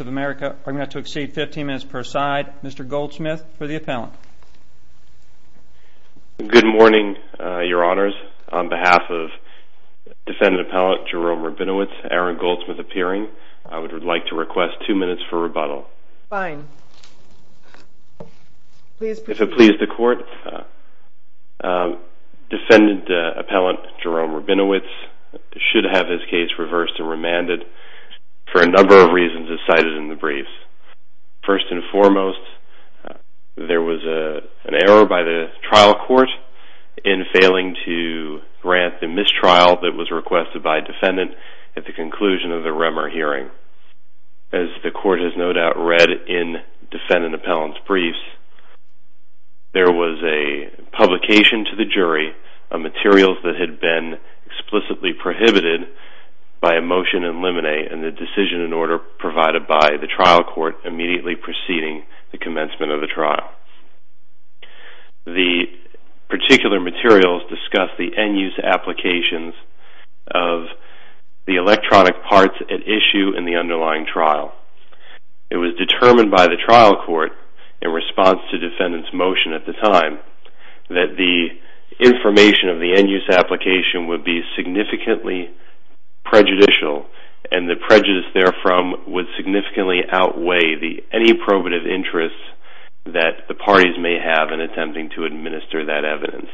of America are going to have to exceed 15 minutes per side. Mr. Goldsmith for the appellant. Good morning, your honors. On behalf of defendant appellant Jerome Rabinowitz, Aaron Goldsmith appearing, I would like to request two minutes for rebuttal. Fine. If it pleases the court, defendant appellant Jerome Rabinowitz should have his case reversed or remanded for a number of reasons as cited in the briefs. First and foremost, there was an error by the trial court in failing to grant the mistrial that was requested by defendant at the conclusion of the Remmer hearing. As the court has no doubt read in defendant appellant's briefs, there was a publication to the jury of materials that had been explicitly prohibited by a motion in limine and the decision in order provided by the trial court immediately preceding the commencement of the trial. The particular materials discussed the end use applications of the electronic parts at issue in the underlying trial. It was determined by the trial court in response to defendant's motion at the time that the information of the end use application would be significantly prejudicial and the prejudice therefrom would significantly outweigh any probative interest that the parties may have in attempting to administer that evidence.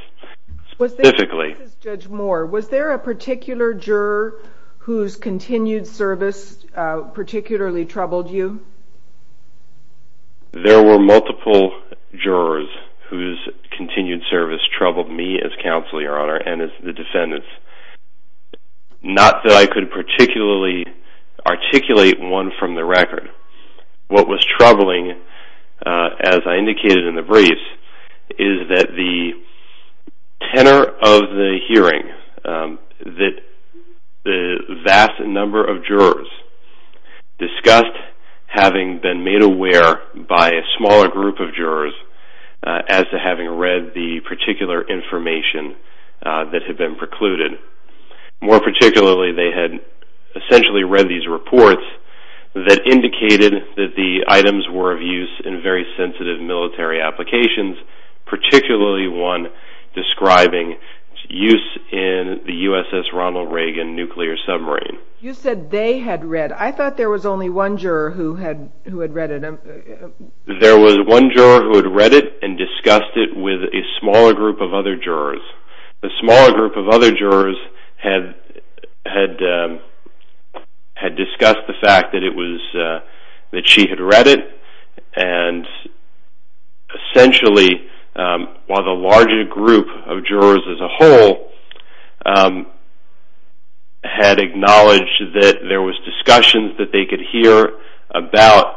Was there a particular juror whose continued service particularly troubled you? There were multiple jurors whose continued service troubled me as counsel, your honor, and as the defendants. Not that I could particularly articulate one from the record. What was troubling, as I indicated in the briefs, is that the tenor of the hearing that the vast number of jurors discussed having been made aware by a smaller group of jurors as to having read the particular information that had been precluded. More particularly, they had essentially read these reports that indicated that the items were of use in very sensitive military applications, particularly one describing use in the USS Ronald Reagan nuclear submarine. You said they had read. I thought there was only one juror who had read it. There was one juror who had read it and discussed it with a smaller group of other jurors. The smaller group of other jurors had discussed the fact that she had read it and essentially, while the larger group of jurors as a whole had acknowledged that there was discussion that they could hear about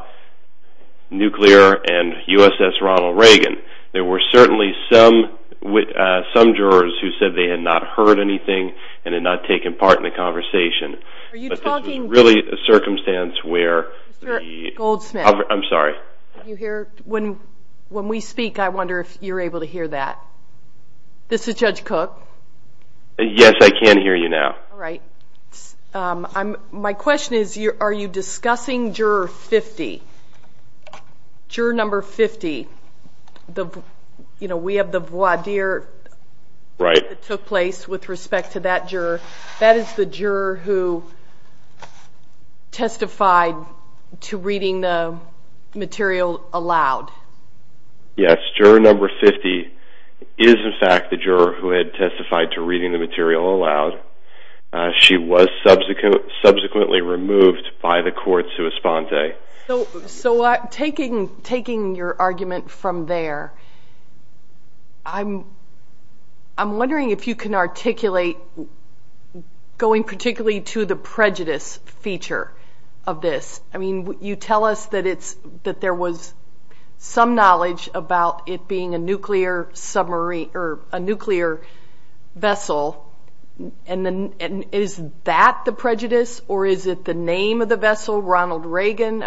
nuclear and USS Ronald Reagan, there were certainly some jurors who said they had not heard anything and had not taken part in the conversation. Are you talking... It was really a circumstance where... Mr. Goldsmith. I'm sorry. Can you hear? When we speak, I wonder if you're able to hear that. This is Judge Cook. Yes, I can hear you now. All right. My question is, are you discussing juror 50? Juror number 50, we have the voir dire that took place with respect to that juror. That is the juror who testified to reading the material aloud. Yes. Juror number 50 is, in fact, the juror who had testified to reading the material aloud. She was subsequently removed by the court sui sponte. Taking your argument from there, I'm wondering if you can articulate, going particularly to the prejudice feature of this. You tell us that there was some knowledge about it being a nuclear vessel. Is that the prejudice or is it the name of the vessel, Ronald Reagan?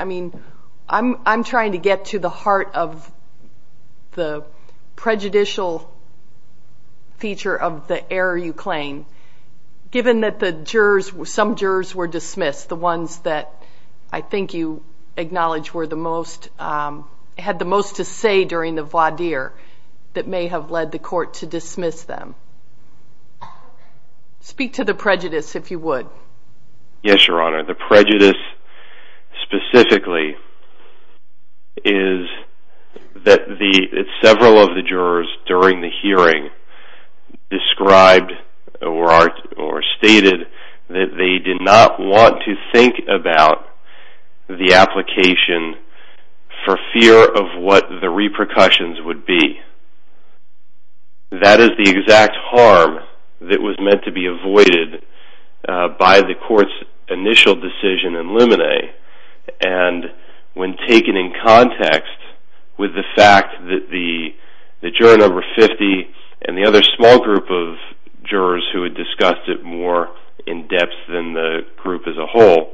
I'm trying to get to the heart of the prejudicial feature of the error you claim. Given that some jurors were dismissed, the ones that I think you acknowledge had the most to say during the voir dire that may have led the court to dismiss them. Speak to the prejudice, if you would. Yes, Your Honor. The prejudice specifically is that several of the jurors during the hearing described or stated that they did not want to think about the application for fear of what the repercussions would be. That is the exact harm that was meant to be avoided by the court's initial decision in Luminae. When taken in context with the fact that the juror number 50 and the other small group of jurors who had discussed it more in depth than the group as a whole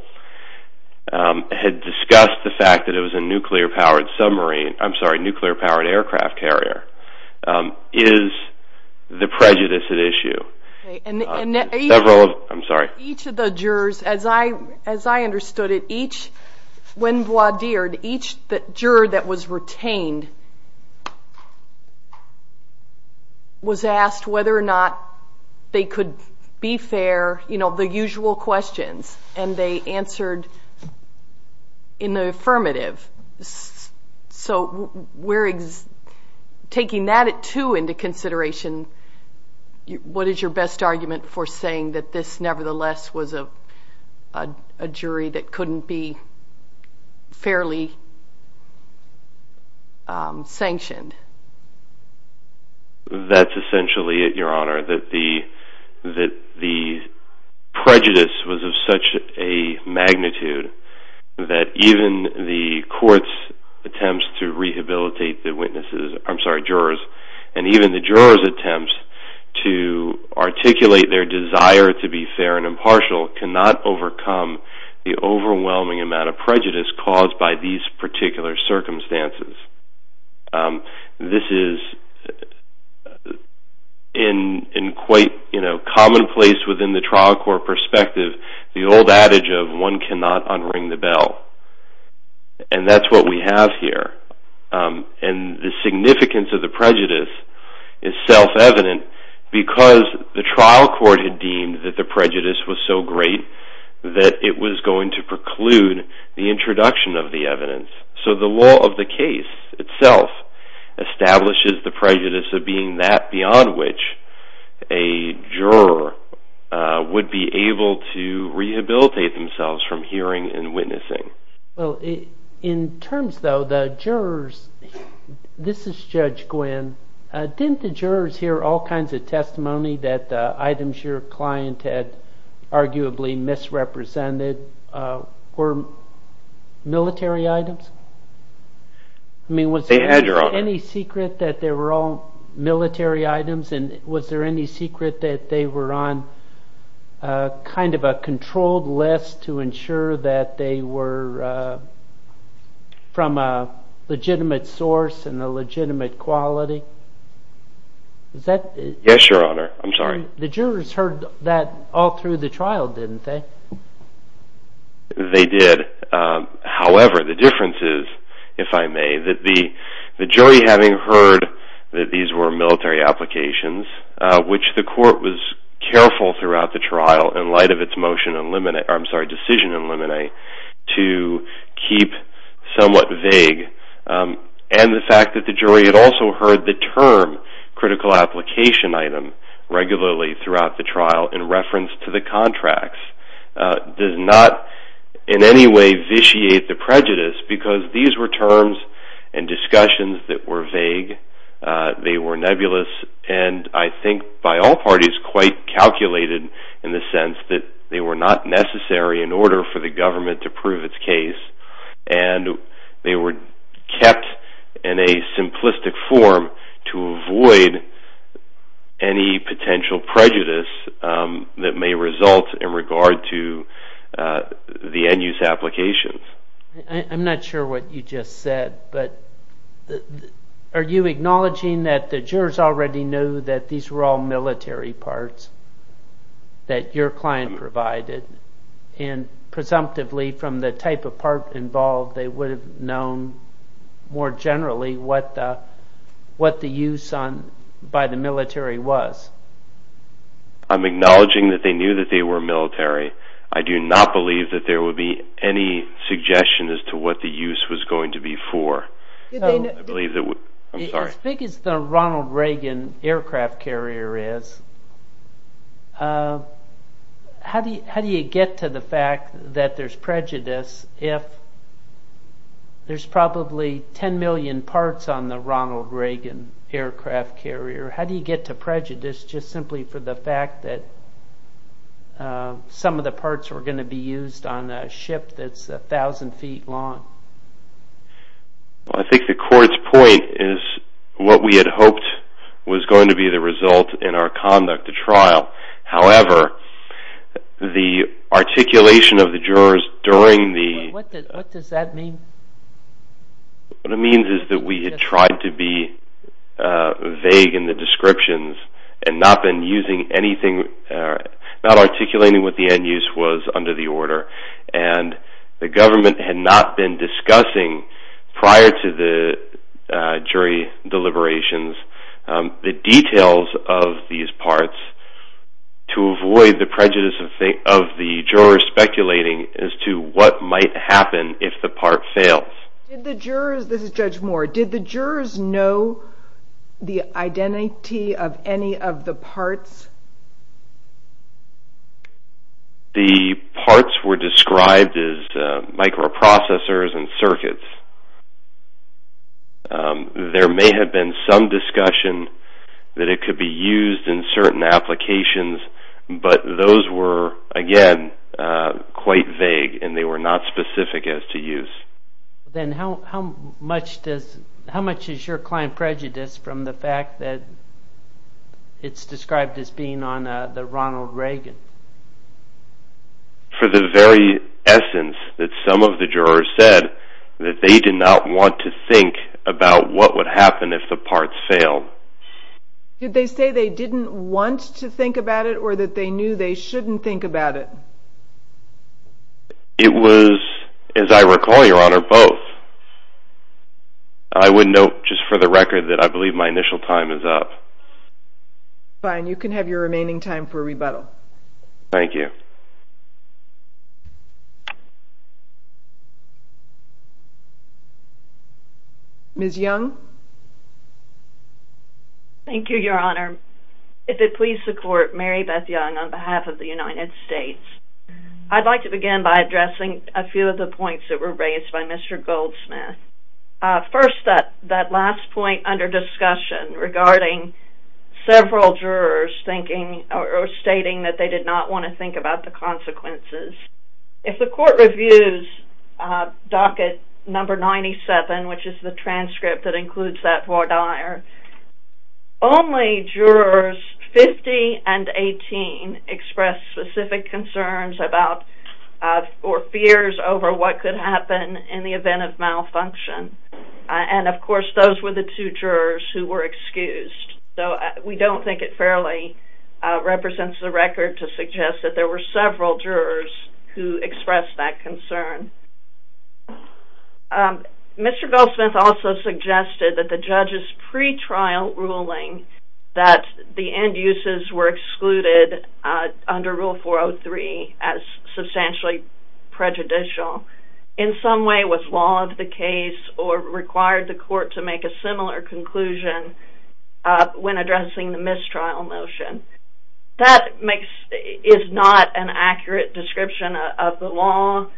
had discussed the fact that it was a nuclear powered aircraft carrier, is the prejudice at issue. Each of the jurors, as I understood it, when voir dired, each juror that was retained was asked whether or not they could be fair, the usual questions. And they answered in the affirmative. So, taking that at two into consideration, what is your best argument for saying that this nevertheless was a jury that couldn't be fairly sanctioned? That's essentially it, Your Honor. That the prejudice was of such a magnitude that even the court's attempts to rehabilitate the jurors and even the jurors' attempts to articulate their desire to be fair and impartial cannot overcome the overwhelming amount of prejudice caused by these particular circumstances. This is, in quite commonplace within the trial court perspective, the old adage of one cannot unring the bell. And that's what we have here. And the significance of the prejudice is self-evident because the trial court had deemed that the prejudice was so great that it was going to preclude the introduction of the evidence. So, the law of the case itself establishes the prejudice of being that beyond which a juror would be able to rehabilitate themselves from hearing and witnessing. Well, in terms, though, the jurors, this is Judge Gwynn, didn't the jurors hear all kinds of testimony that items your client had arguably misrepresented and that were military items? They had, Your Honor. I mean, was there any secret that they were all military items and was there any secret that they were on kind of a controlled list to ensure that they were from a legitimate source and a legitimate quality? Yes, Your Honor. I'm sorry. The jurors heard that all through the trial, didn't they? They did. However, the difference is, if I may, that the jury having heard that these were military applications, which the court was careful throughout the trial in light of its decision in limine to keep somewhat vague, and the fact that the jury had also heard the term critical application item regularly throughout the trial in reference to the contracts did not in any way vitiate the prejudice, because these were terms and discussions that were vague. They were nebulous, and I think by all parties quite calculated in the sense that they were not necessary in order for the government to prove its case, and they were kept in a simplistic form to avoid any potential prejudice that may result in regard to the end-use applications. I'm not sure what you just said, but are you acknowledging that the jurors already knew that these were all military parts that your client provided, and presumptively from the type of part involved, they would have known more generally what the use by the military was? I'm acknowledging that they knew that they were military. I do not believe that there would be any suggestion as to what the use was going to be for. As big as the Ronald Reagan aircraft carrier is, how do you get to the fact that there's prejudice if there's probably 10 million parts on the Ronald Reagan aircraft carrier? How do you get to prejudice just simply for the fact that some of the parts were going to be used on a ship that's a thousand feet long? Well, I think the court's point is what we had hoped was going to be the result in our conduct of trial. However, the articulation of the jurors during the... What does that mean? What it means is that we had tried to be vague in the descriptions and not articulating what the end use was under the order, and the government had not been discussing prior to the jury deliberations the details of these parts to avoid the prejudice of the jurors speculating as to what might happen if the part fails. Did the jurors... This is Judge Moore. Did the jurors know the identity of any of the parts? The parts were described as microprocessors and circuits. There may have been some discussion that it could be used in certain applications, but those were, again, quite vague and they were not specific as to use. Then how much is your client prejudiced from the fact that it's described as being on the Ronald Reagan? For the very essence that some of the jurors said that they did not want to think about what would happen if the parts failed. Did they say they didn't want to think about it or that they knew they shouldn't think about it? It was, as I recall, Your Honor, both. I would note just for the record that I believe my initial time is up. Fine. You can have your remaining time for rebuttal. Thank you. Ms. Young? Thank you, Your Honor. If it please the Court, Mary Beth Young on behalf of the United States. I'd like to begin by addressing a few of the points that were raised by Mr. Goldsmith. First, that last point under discussion regarding several jurors thinking or stating that they did not want to think about the consequences. If the Court reviews docket number 97, which is the transcript that includes that voir dire, only jurors 50 and 18 expressed specific concerns about or fears over what could happen in the event of malfunction. And, of course, those were the two jurors who were excused. So we don't think it fairly represents the record to suggest that there were several jurors who expressed that concern. Mr. Goldsmith also suggested that the judge's pretrial ruling that the end uses were excluded under Rule 403 as substantially prejudicial in some way was law of the case or required the Court to make a similar conclusion when addressing the mistrial motion. That is not an accurate description of the law.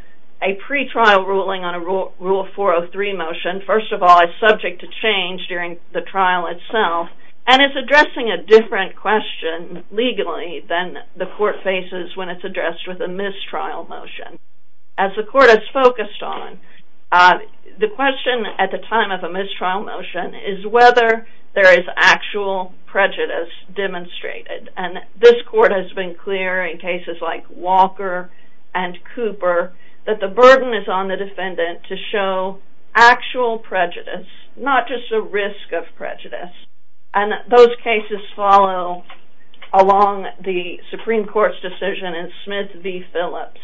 A pretrial ruling on a Rule 403 motion, first of all, is subject to change during the trial itself and is addressing a different question legally than the Court faces when it's addressed with a mistrial motion. As the Court has focused on, the question at the time of a mistrial motion is whether there is actual prejudice demonstrated. And this Court has been clear in cases like Walker and Cooper that the burden is on the defendant to show actual prejudice, not just a risk of prejudice. And those cases follow along the Supreme Court's decision in Smith v. Phillips,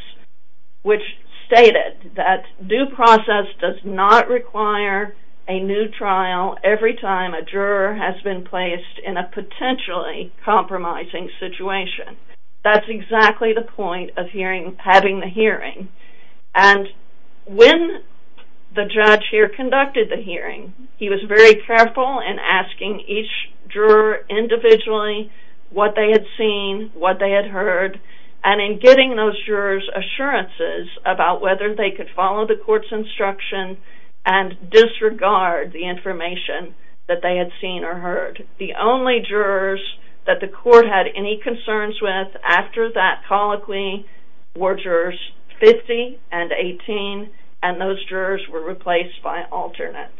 which stated that due process does not require a new trial every time a juror has been placed in a potentially compromising situation. That's exactly the point of having the hearing. And when the judge here conducted the hearing, he was very careful in asking each juror individually what they had seen, what they had heard, and in getting those jurors' assurances about whether they could follow the Court's instruction and disregard the information that they had seen or heard. The only jurors that the Court had any concerns with after that colloquy were jurors 50 and 18, and those jurors were replaced by alternates.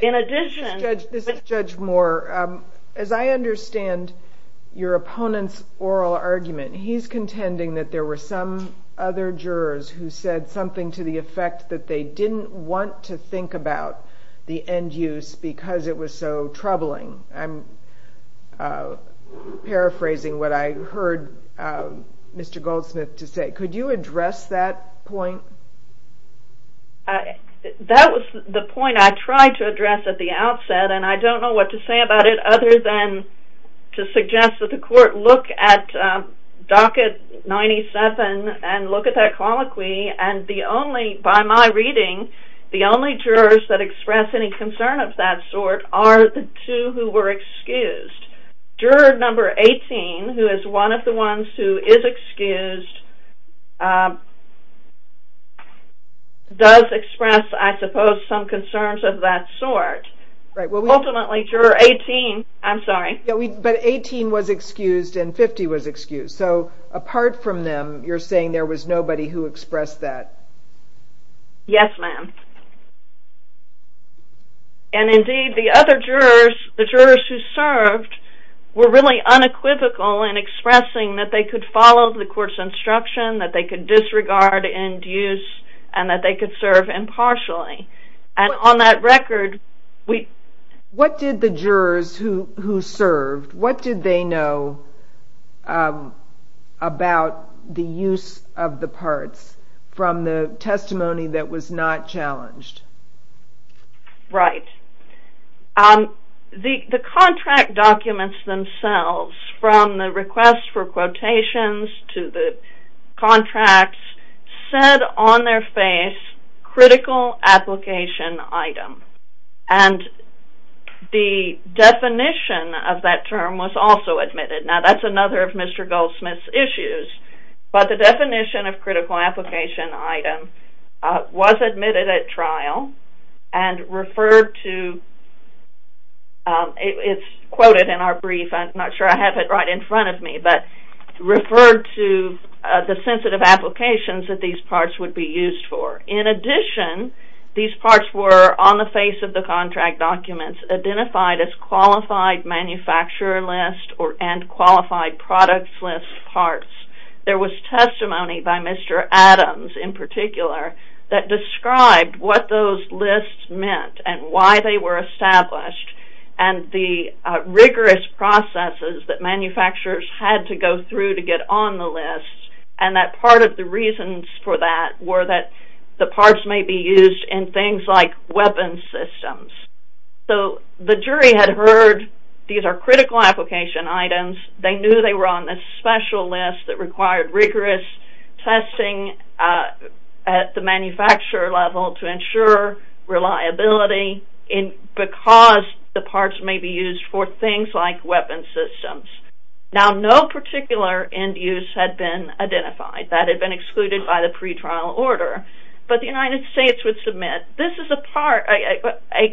In addition... This is Judge Moore. As I understand your opponent's oral argument, he's contending that there were some other jurors who said something to the effect that they didn't want to think about the end use because it was so troubling. I'm paraphrasing what I heard Mr. Goldsmith to say. Could you address that point? That was the point I tried to address at the outset, and I don't know what to say about it other than to suggest that the Court look at Docket 97 and look at that colloquy, and by my reading, the only jurors that express any concern of that sort are the two who were excused. Juror number 18, who is one of the ones who is excused, does express, I suppose, some concerns of that sort. Ultimately, juror 18... I'm sorry. But 18 was excused and 50 was excused, so apart from them, you're saying there was nobody who expressed that? Yes, ma'am. And indeed, the other jurors, the jurors who served, were really unequivocal in expressing that they could follow the Court's instruction, that they could disregard end use, and that they could serve impartially. And on that record, we... What did the jurors who served, what did they know about the use of the parts from the testimony that was not challenged? Right. The contract documents themselves, from the request for quotations to the contracts, said on their face, critical application item. And the definition of that term was also admitted. Now, that's another of Mr. Goldsmith's issues, but the definition of critical application item was admitted at trial and referred to... It's quoted in our brief. I'm not sure I have it right in front of me, but referred to the sensitive applications that these parts would be used for. In addition, these parts were, on the face of the contract documents, identified as qualified manufacturer list and qualified products list parts. There was testimony by Mr. Adams, in particular, that described what those lists meant and why they were established and the rigorous processes that manufacturers had to go through to get on the list, and that part of the reasons for that were that the parts may be used in things like weapons systems. So, the jury had heard these are critical application items. They knew they were on this special list and required rigorous testing at the manufacturer level to ensure reliability because the parts may be used for things like weapons systems. Now, no particular end use had been identified. That had been excluded by the pretrial order, but the United States would submit, this is a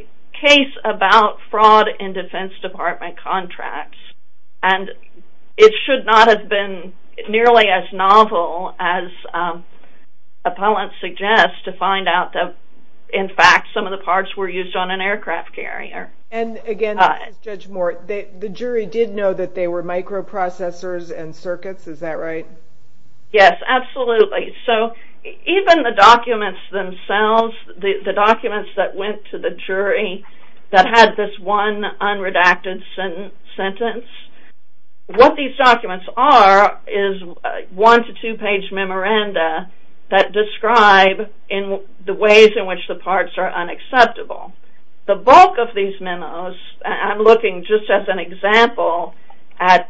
case about fraud in Defense Department contracts, and it should not have been as novel as appellant suggests to find out that, in fact, some of the parts were used on an aircraft carrier. And again, Judge Moore, the jury did know that they were microprocessors and circuits. Is that right? Yes, absolutely. So, even the documents themselves, the documents that went to the jury that had this one unredacted sentence, what these documents are is one- to two-page memoranda that describe the ways in which the parts are unacceptable. The bulk of these memos, I'm looking just as an example at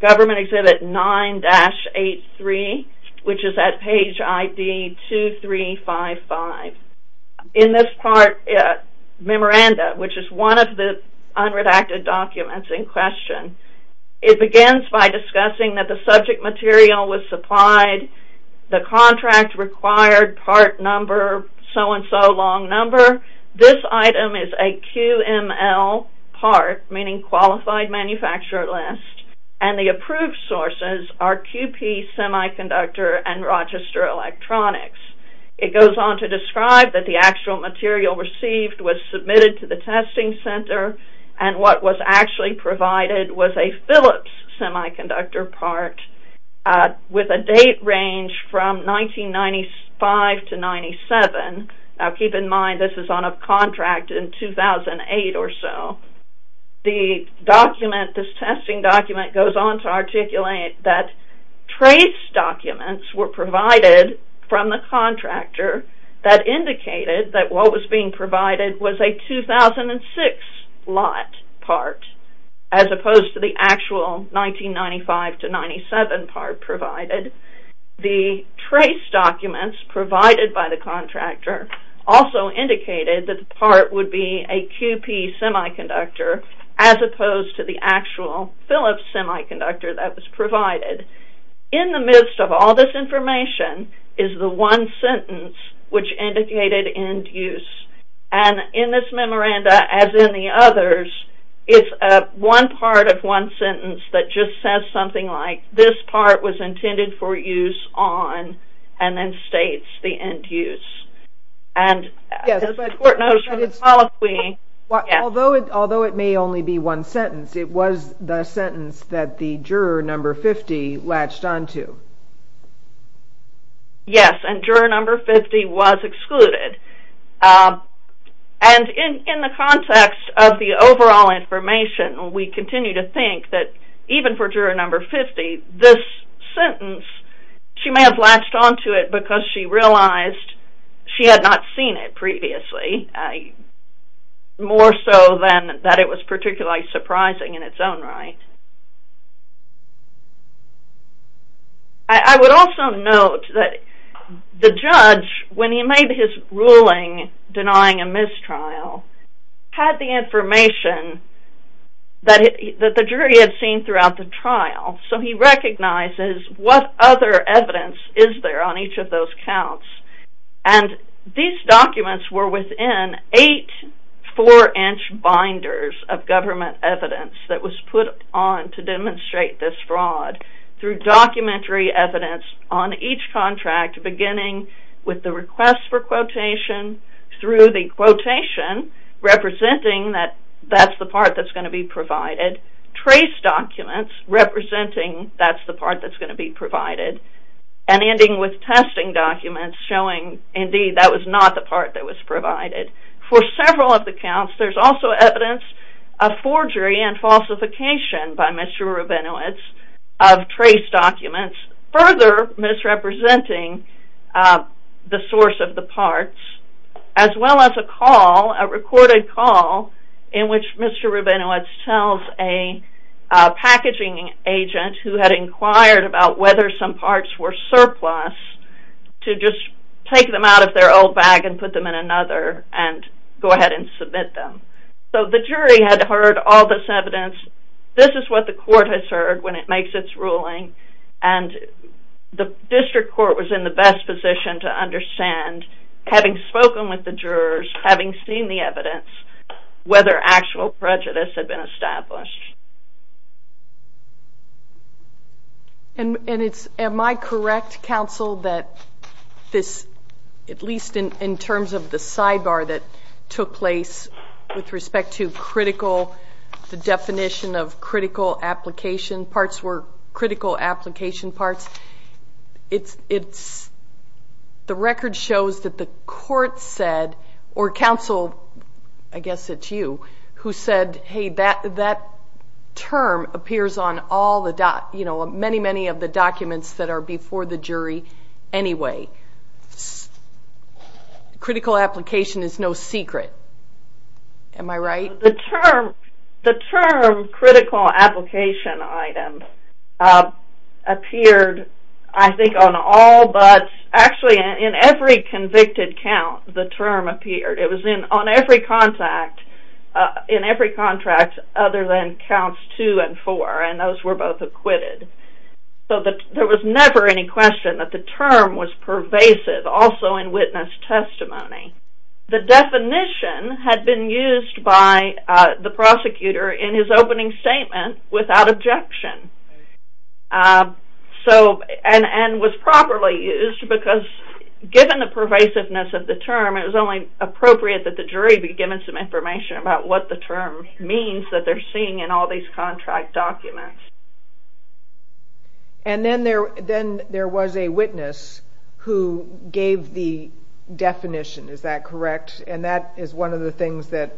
Government Exhibit 9-83, which is at page ID 2355. In this part, memoranda, which is one of the unredacted documents in question, it begins by discussing how the specific material was supplied, the contract required, part number, so-and-so long number. This item is a QML part, meaning Qualified Manufacturer List, and the approved sources are QP Semiconductor and Rochester Electronics. It goes on to describe that the actual material received was submitted to the testing center, and what was actually provided was a Phillips semiconductor part with a date range from 1995 to 1997. Now, keep in mind, this is on a contract in 2008 or so. The document, this testing document, goes on to articulate that trace documents were provided from the contractor that indicated that what was being provided was a 2006 lot part, as opposed to the actual 1995 to 1997 part provided. The trace documents provided by the contractor also indicated that the part would be a QP semiconductor, as opposed to the actual Phillips semiconductor that was provided. In the midst of all this information is the one sentence which indicated end use, and in this memoranda, as in the others, it's one part of one sentence that just says something like this part was intended for use on, and then states the end use. And as the court noticed from the colloquy... Although it may only be one sentence, it was the sentence that the juror number 50 latched on to. Yes, and juror number 50 was excluded, and in the context of the overall information, we continue to think that even for juror number 50, this sentence, she may have latched on to it because she realized she had not seen it previously, more so than that it was particularly surprising in its own right. I would also note that the judge, when he made his ruling denying a mistrial, had the information that the jury had seen throughout the trial, so he recognizes what other evidence is there on each of those counts, and these documents were within eight four-inch binders of government evidence that was put on to demonstrate this fraud through documentary evidence on each contract, beginning with the request for quotation, through the quotation representing that that's the part that's going to be provided, trace documents representing that's the part that's going to be provided, and ending with testing documents showing indeed that was not the part that was provided. For several of the counts, there's also evidence of forgery and falsification by Mr. Rabinowitz of trace documents, further misrepresenting the source of the parts as well as a call, a recorded call, in which Mr. Rabinowitz tells a packaging agent who had inquired about whether some parts were surplus to just take them out of their old bag and put them in another and go ahead and submit them. So the jury had heard all this evidence. This is what the court has heard when it makes its ruling, and the district court was in the best position to understand having spoken with the jurors, having seen the evidence, whether actual prejudice had been established. And it's, am I correct, counsel, that this, at least in terms of the sidebar that took place with respect to critical, the definition of critical application parts were critical application parts, it's, the record shows that the court said, or counsel, I guess it's you, who said, hey, that term appears on all the, you know, many, many of the documents that are before the jury anyway. Critical application is no secret. Am I right? The term, the term critical application items appeared, I think, on all but, actually in every convicted count the term appeared. It was on every contract, in every contract other than counts two and four, and those were both acquitted. So there was never any question that the term was pervasive, also in witness testimony. The definition had been used by the prosecutor in his opening statement without objection. So, and was properly used because given the pervasiveness of the term it was only appropriate that the jury be given some information about what the term means that they're seeing in all these contract documents. And then there, then there was a witness who gave the definition, is that correct? And that is one of the things that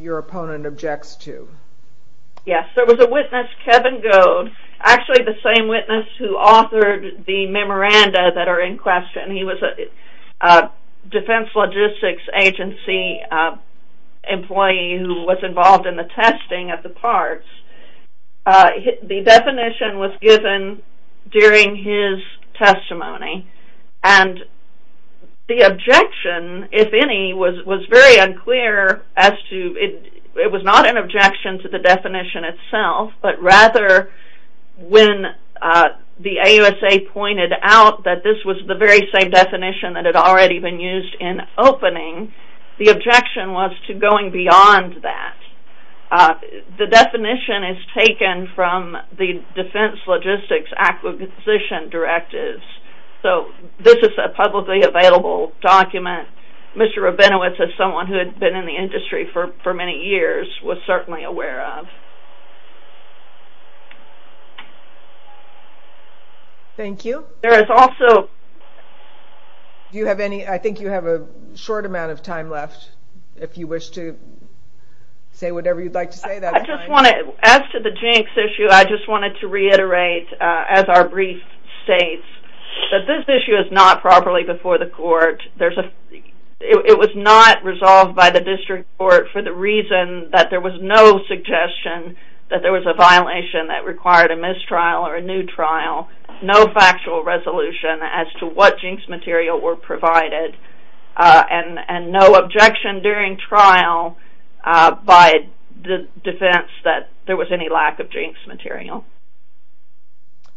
your opponent objects to. Yes, there was a witness Kevin Goad, actually the same witness who authored the memoranda that are in question. He was a Defense Logistics Agency employee who was involved in the testing of the parts. The definition was given during his testimony and the objection, if any, was very unclear as to, it was not an objection to the definition, whether when the AUSA pointed out that this was the very same definition that had already been used in opening, the objection was to going beyond that. The definition is taken from the Defense Logistics Acquisition Directives. So, this is a publicly available document. Mr. Rabinowitz as someone who had been in the industry for many years was certainly aware of. Thank you. There is also... Do you have any... I think you have a short amount of time left. If you wish to say whatever you'd like to say. I just want to... As to the jinx issue, I just wanted to reiterate, as our brief states, that this issue is not properly before the court. There's a... It was not resolved by the district court for the reason that there was no suggestion that there was a violation that required a mistrial or a new trial. No factual resolution as to what jinx material were provided. And no objection during trial by the defense that there was any lack of jinx material.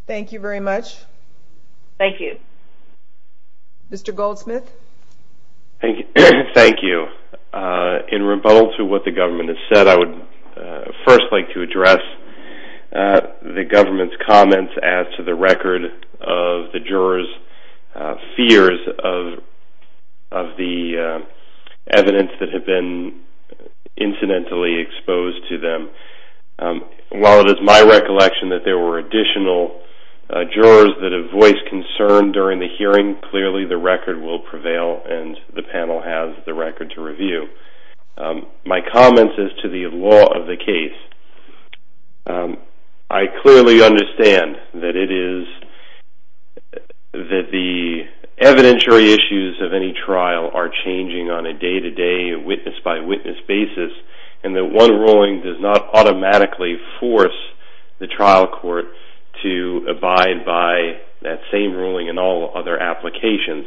Thank you very much. Thank you. Mr. Goldsmith. Thank you. In rebuttal to what the government has said, I would first like to address the government's comments as to the record of the jurors' fears of the evidence that had been incidentally exposed to them. While it is my recollection that there were additional jurors that have voiced concern during the hearing, clearly the record will prevail and the panel has the record to review. My comments is to the law of the case. I clearly understand that it is that the evidentiary issues of any trial are changing on a day-to-day, witness-by-witness basis and that one ruling does not automatically force the trial court to abide by that same ruling and all other applications.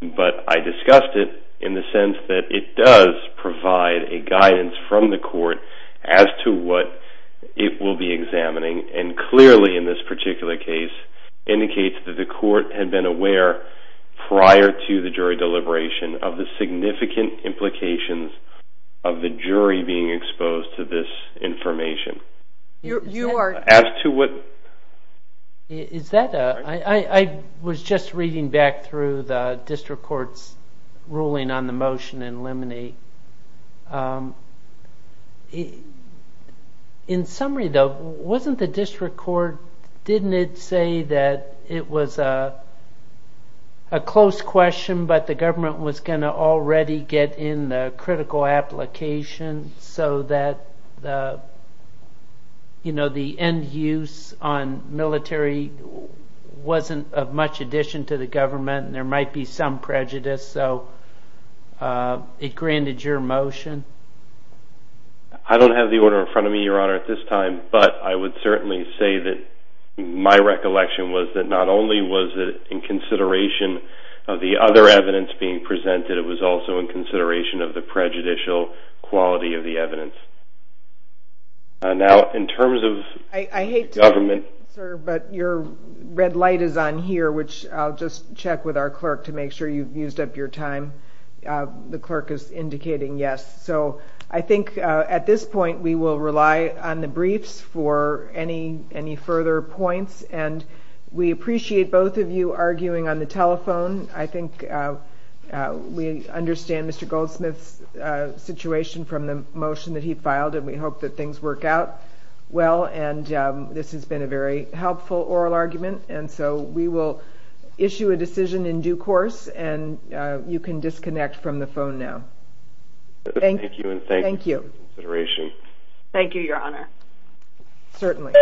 But I discussed it in the sense that it does provide a guidance from the court as to what it will be examining and clearly in this particular case indicates that the court had been aware prior to the jury deliberation of the significant implications of the jury being exposed to this information. As to what... Is that a... I was just reading back through the district court's ruling on the motion in summary though wasn't the district court didn't it say that it was a close question but the government was going to already get in the critical application so that the end use on military wasn't of much addition to the government and there might be some prejudice so it granted your motion. I don't have the order in front of me your honor at this time but I would certainly say that my recollection was that not only was it in consideration of the other evidence being presented it was also in consideration of the prejudicial quality of the evidence. Now in terms of government... I hate to but your red light is on here which I'll just check with our clerk to make sure you've used up your time. The clerk is indicating yes. So I think at this point we will rely on the briefs for any further points and we appreciate both of you arguing on the telephone. I think we understand Mr. Goldsmith's situation from the motion that he filed and we hope that things work out well and this has been a very helpful oral argument and so we will issue a decision in due course and you can disconnect from the phone now. Thank you. Thank you. Thank you your honor. Certainly.